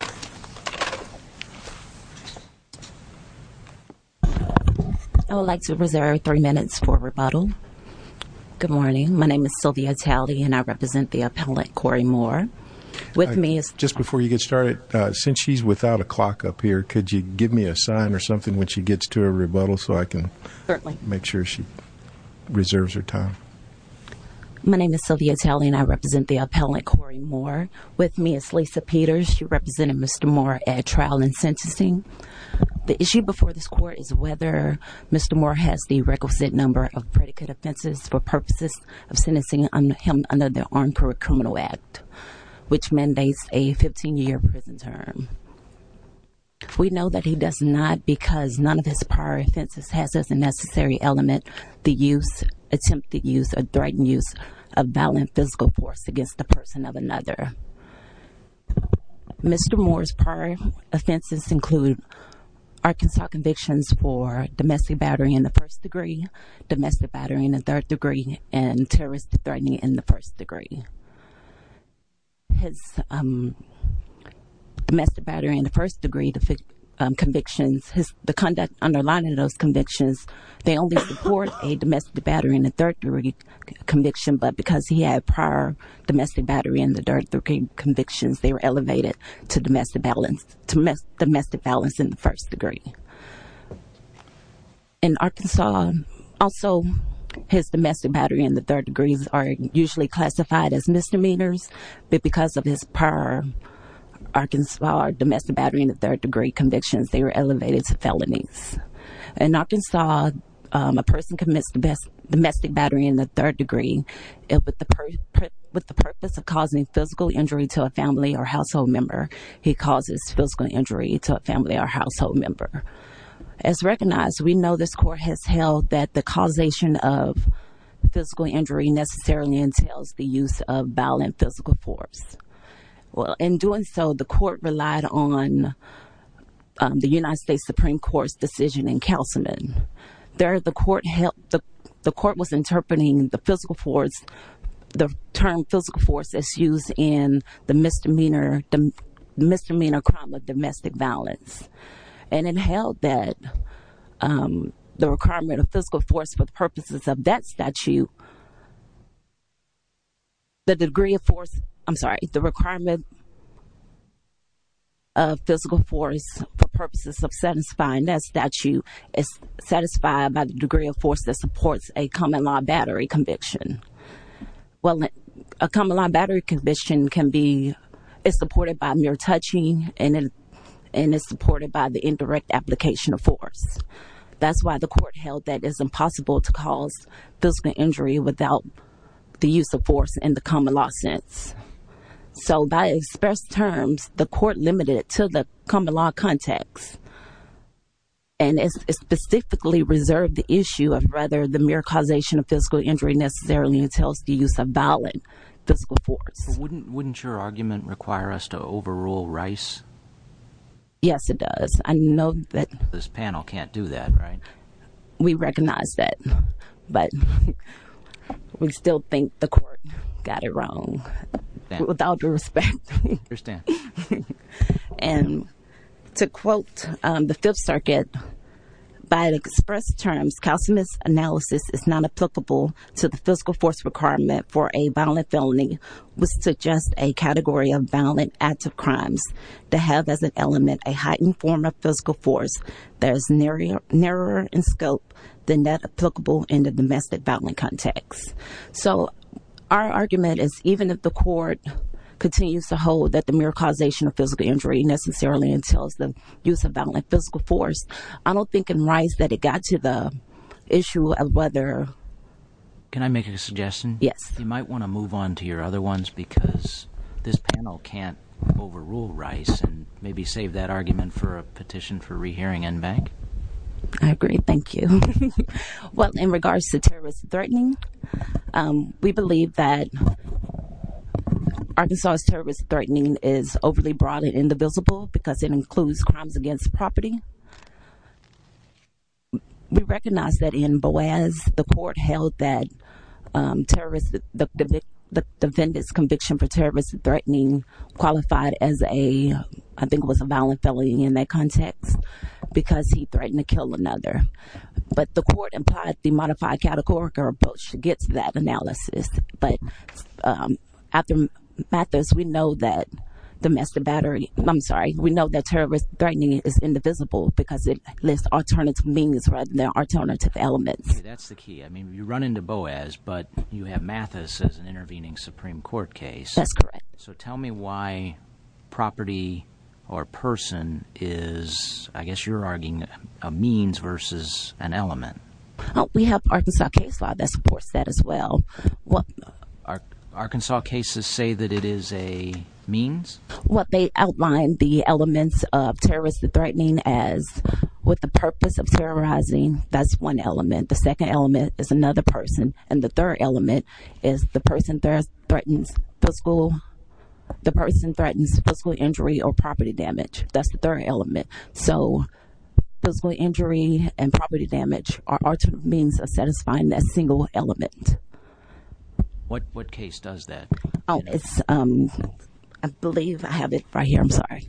I would like to reserve three minutes for rebuttal. Good morning, my name is Sylvia Talley and I represent the appellant Korey Moore. With me is... Just before you get started, since she's without a clock up here, could you give me a sign or something when she gets to a rebuttal so I can make sure she reserves her time. My name is Sylvia Talley and I represent the appellant Korey Moore. With me is Lisa Peters, she represented Mr. Moore at trial and sentencing. The issue before this court is whether Mr. Moore has the requisite number of predicate offenses for purposes of sentencing him under the Armed Career Criminal Act, which mandates a 15-year prison term. We know that he does not because none of his prior offenses has as a necessary element the use, attempt to use, or coercion of another. Mr. Moore's prior offenses include Arkansas convictions for domestic battery in the first degree, domestic battery in the third degree, and terrorist threatening in the first degree. His domestic battery in the first degree convictions, the conduct underlying those convictions, they only support a domestic battery in the third degree conviction, but because he had prior domestic battery in the third degree convictions, they were elevated to domestic balance in the first degree. In Arkansas, also his domestic battery in the third degree are usually classified as misdemeanors, but because of his prior Arkansas domestic battery in the third degree convictions, they were elevated to felonies. In Arkansas, a person commits domestic battery in the third degree with the purpose of causing physical injury to a family or household member. He causes physical injury to a family or household member. As recognized, we know this court has held that the causation of physical injury necessarily entails the use of violent physical force. In doing so, the court relied on the United States Supreme Court's decision in Councilman. There, the court was interpreting the physical force, the term physical force, as used in the misdemeanor crime of domestic violence, and it held that the requirement of physical force for the purposes of that statute, the degree of force, I'm sorry, the requirement of physical force is not satisfied by the degree of force that supports a common-law battery conviction. Well, a common-law battery conviction can be supported by mere touching, and it's supported by the indirect application of force. That's why the court held that it is impossible to cause physical injury without the use of force in the common-law sense. So, by express terms, the court limited it to the specifically reserved the issue of whether the mere causation of physical injury necessarily entails the use of violent physical force. Wouldn't your argument require us to overrule Rice? Yes, it does. I know that this panel can't do that, right? We recognize that, but we still think the court got it wrong, without respect. And to quote the Fifth Circuit, by express terms, calcimus analysis is not applicable to the physical force requirement for a violent felony, which suggests a category of violent active crimes to have as an element a heightened form of physical force that is narrower in scope than that applicable in the domestic violent context. So, our argument is even if the court continues to hold that the mere causation of physical injury necessarily entails the use of violent physical force, I don't think in Rice that it got to the issue of whether... Can I make a suggestion? Yes. You might want to move on to your other ones, because this panel can't overrule Rice and maybe save that argument for a petition for rehearing NBank. I agree, thank you. Well, in regards to terrorist threatening, we believe that Arkansas's terrorist threatening is overly broad and indivisible, because it includes crimes against property. We recognize that in Boaz, the court held that terrorist, the defendant's conviction for terrorist threatening qualified as a, I think it was a violent felony in that context, because he threatened to kill another. But the court implied the modified categorical approach gets that analysis. But after Mathis, we know that the domestic battery, I'm sorry, we know that terrorist threatening is indivisible, because it lists alternative means rather than alternative elements. That's the key. I mean, you run into Boaz, but you have Mathis as an intervening Supreme Court case. That's correct. So, tell me why property or person is, I guess you're arguing, a means versus an element. We have Arkansas case law that supports that as well. Arkansas cases say that it is a means? Well, they outline the elements of terrorist threatening as, with the purpose of terrorizing, that's one element. The second element is another person. And the third element is the person that threatens the school the person threatens physical injury or property damage. That's the third element. So, physical injury and property damage are alternative means of satisfying that single element. What case does that? Oh, it's, I believe I have it right here. I'm sorry.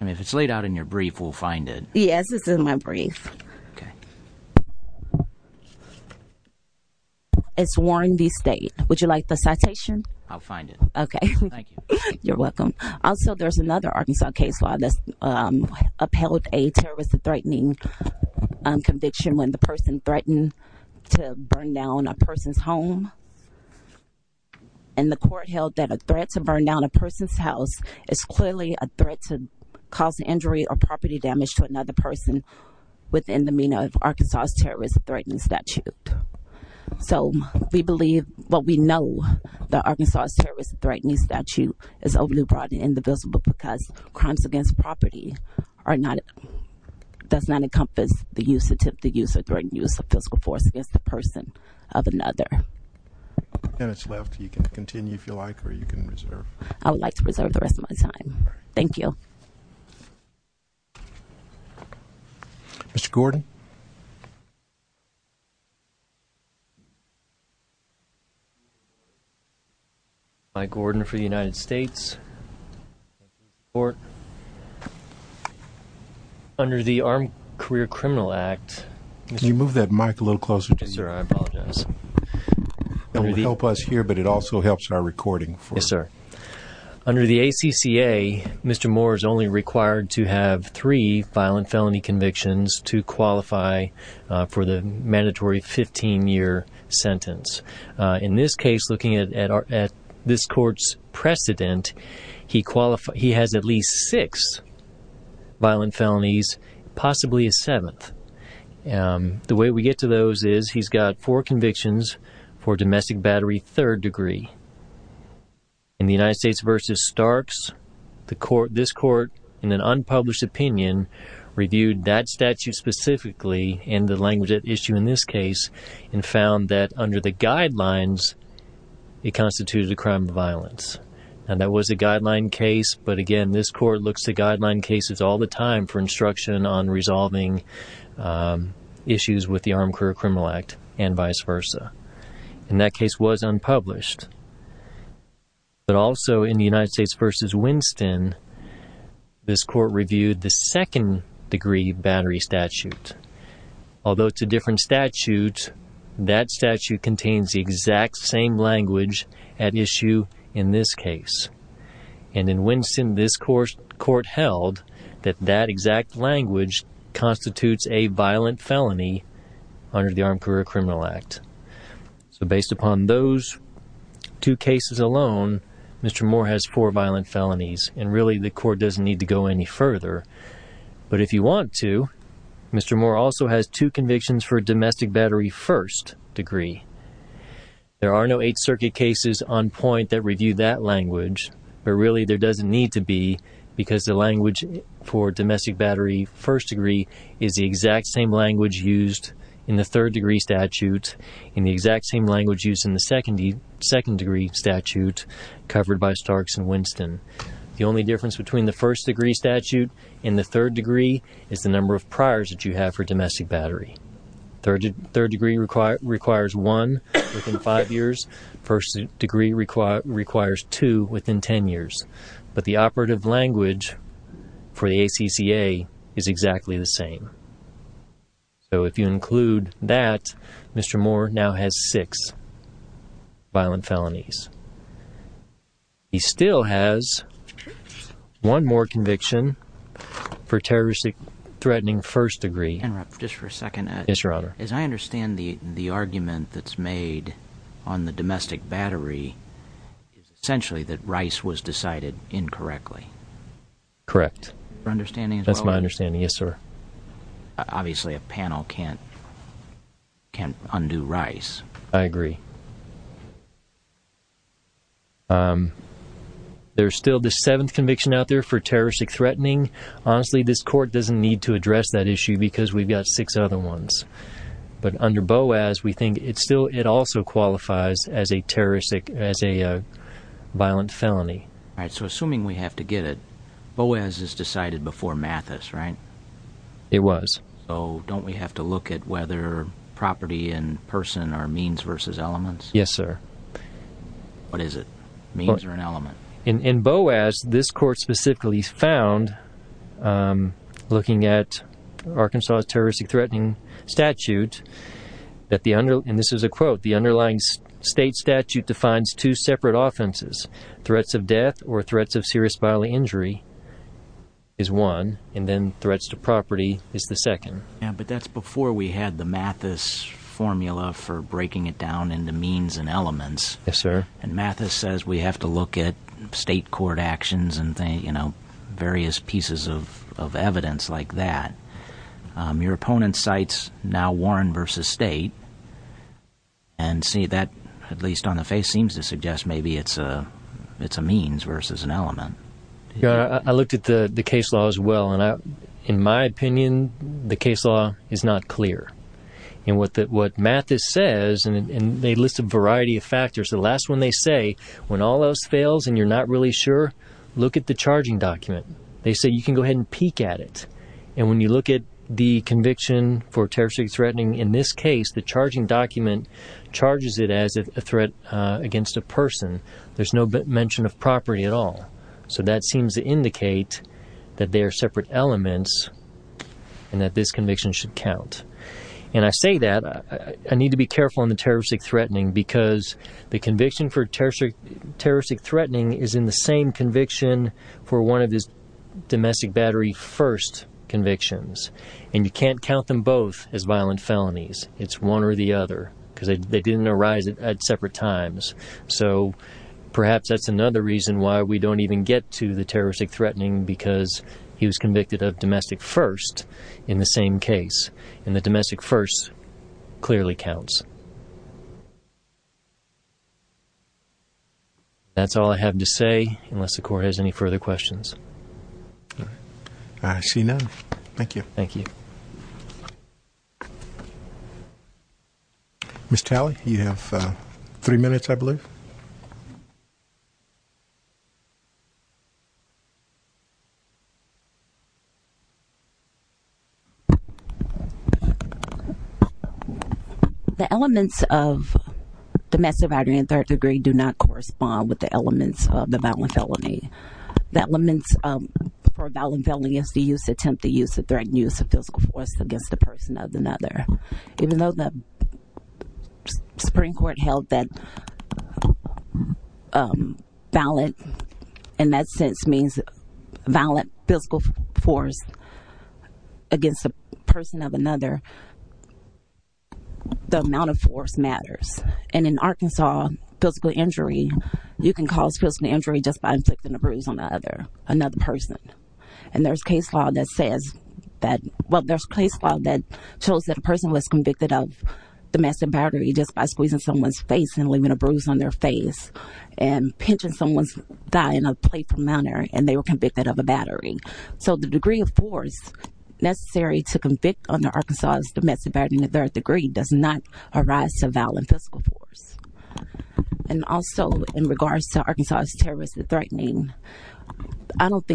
I mean, if it's laid out in your brief, we'll find it. Yes, it's in my brief. It's Warren v. State. Would you like the citation? I'll find it. Okay. Thank you. You're welcome. Also, there's another Arkansas case law that's upheld a terrorist threatening conviction when the person threatened to burn down a person's home. And the court held that a threat to burn down a person's house is clearly a threat to cause injury or property damage to another person within the meaning of Arkansas's terrorist threatening statute. So, we believe, well, we know that Arkansas's terrorist threatening statute is overly broad and indivisible because crimes against property are not, does not encompass the use, attempted use or threatened use of physical force against the person of another. Ten minutes left. You can continue if you like or you can reserve. I would like to move that mic a little closer to you. Yes, sir. I apologize. It will help us here, but it also helps our recording. Yes, sir. Under the ACCA, Mr. Moore is only required to have three violent felony convictions, two required to qualify for the mandatory 15-year sentence. In this case, looking at this court's precedent, he has at least six violent felonies, possibly a seventh. The way we get to those is he's got four convictions for domestic violence. The statute specifically, in the language at issue in this case, found that under the guidelines it constituted a crime of violence. That was a guideline case, but again this court looks to guideline cases all the time for instruction on resolving issues with the Armed Career Criminal Act and vice versa. And that case was unpublished. But also in the United States v. Winston, this court reviewed the second-degree battery statute. Although it's a different statute, that statute contains the exact same language at issue in this case. And in Winston, this court held that that exact language constitutes a violent felony under the Armed Career Criminal Act. So based upon those two cases alone, Mr. Moore has four violent felonies, and really the court doesn't need to go any further. But if you want to, Mr. Moore also has two convictions for domestic battery first degree. There are no Eighth Circuit cases on point that review that language, but really there doesn't need to be, because the language for domestic battery first degree is the exact same language used in the third-degree statute and the exact same language used in the second-degree statute covered by Starks v. Winston. The only difference between the first-degree statute and the third-degree is the number of priors that you have for domestic battery. Third-degree requires one within five years. First-degree requires two within ten years. But the operative language for the ACCA is exactly the same. So if you include that, Mr. Moore now has six violent felonies. He still has one more conviction for terrorist-threatening first degree. Interrupt just for a second. Yes, Your Honor. As I understand the argument that's made on the domestic battery is essentially that Rice was decided incorrectly. Correct. That's my understanding, yes sir. Obviously a panel can't undo Rice. I agree. There's still the seventh conviction out there for terroristic threatening. Honestly, this court doesn't need to address that issue because we've got six other ones. But under Boas, we think it's still, it also qualifies as a terroristic, as a violent felony. Alright, so assuming we have to get it, Boas is decided before Mathis, right? It was. So don't we have to look at whether property and person are means versus elements? Yes, sir. What is it? Means or an element? In Boas, this court specifically found, looking at Arkansas's terroristic threatening statute, that the underlying, and this is a quote, the underlying state statute defines two separate offenses. Threats of death or threats of serious bodily injury is one, and then threats to property is the other. So we've got this formula for breaking it down into means and elements. Yes, sir. And Mathis says we have to look at state court actions and, you know, various pieces of evidence like that. Your opponent cites now Warren versus state, and see that, at least on the face, seems to suggest maybe it's a, it's a means versus an element. Yeah, I looked at the the case law as well, and I, in my opinion, the case law is not clear. And what that, what Mathis says, and they list a variety of factors, the last one they say, when all else fails and you're not really sure, look at the charging document. They say you can go ahead and peek at it. And when you look at the conviction for terroristic threatening, in this case, the charging document charges it as a threat against a person. There's no mention of property at all. So that seems to indicate that they are separate elements, and that this is a domestic battery first conviction. And I say that, I need to be careful on the terroristic threatening, because the conviction for terroristic threatening is in the same conviction for one of his domestic battery first convictions. And you can't count them both as violent felonies. It's one or the other, because they didn't arise at separate times. So perhaps that's another reason why we don't even get to the terroristic threatening, because he was a domestic first, clearly counts. That's all I have to say, unless the court has any further questions. I see none. Thank you. Thank you. Ms. Talley, you have three minutes, I believe. The elements of domestic battery and third degree do not correspond with the elements of the violent felony. The elements for a violent felony is the use of physical force against the person of another. Even though the Supreme Court held that violent, in that sense, means violent physical force against a person of another, the amount of force matters. And in Arkansas, physical injury, you can cause physical injury just by inflicting a bruise on another person. And there's a case law that says that, well, there's a case law that shows that a person was convicted of domestic battery just by squeezing someone's face and leaving a bruise on their face, and pinching someone's thigh in a playful manner, and they were convicted of a battery. So the degree of force necessary to convict under Arkansas's domestic battery and third degree does not arise to violent physical force. And also, in regards to Arkansas's terroristic threatening, I know the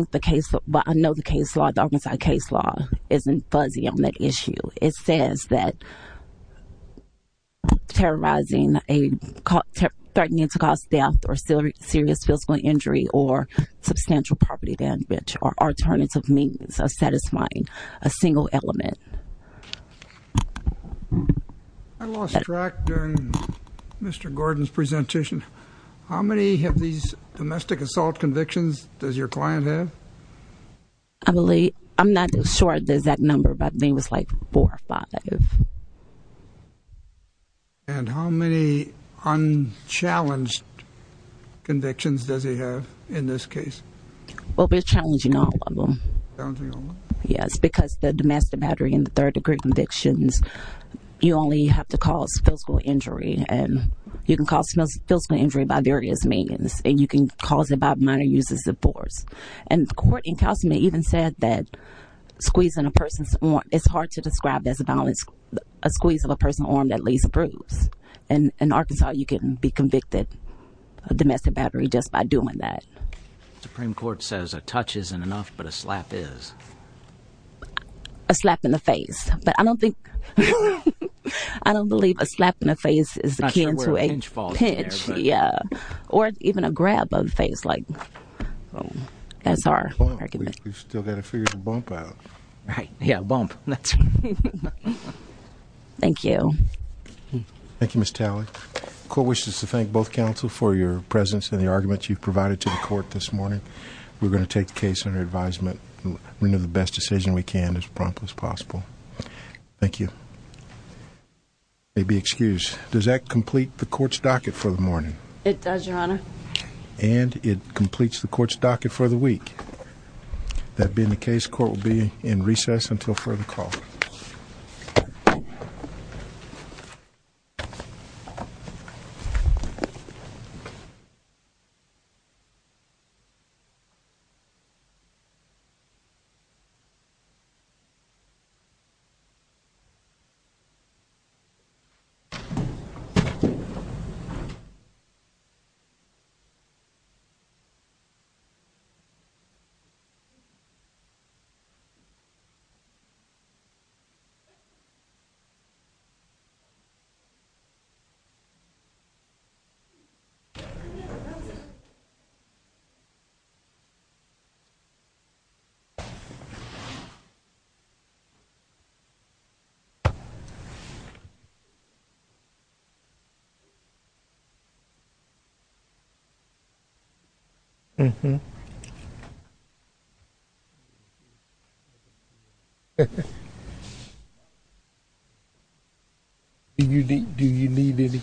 Arkansas case law isn't fuzzy on that issue. It says that terrorizing, threatening to cause death or serious physical injury or substantial property damage or alternative means of satisfying a single element. I lost track during Mr. Gordon's presentation. How many of these domestic assault convictions does your client have? I believe I'm not sure there's that number, but it was like four or five. And how many unchallenged convictions does he have in this case? Well, we're challenging all of them. Yes, because the domestic battery and the third degree convictions, you only have to cause physical injury. And you can cause physical injury by various means. And you can cause it by minor uses of court. Encounters may even said that squeezing a person's want. It's hard to describe as a balance. A squeeze of a person armed at least approves. And in Arkansas, you can be convicted of domestic battery just by doing that. Supreme Court says a touch isn't enough, but a slap is a slap in the face. But I don't think I don't believe a slap in the face is a pinch. Yeah, or even a grab of face like that's our argument. We've still got to figure the bump out. Right? Yeah. Bump. That's thank you. Thank you, Miss Talley. Court wishes to thank both counsel for your presence in the arguments you've provided to the court this morning. We're going to take the case under advisement. We know the best decision we can as prompt as possible. Thank you. Maybe excuse. Does that complete the court's docket for the morning? It does, Your Honor. And it completes the court's docket for the week. That being the case, court will be in recess until further call. Okay. Okay. Do you need any calendars?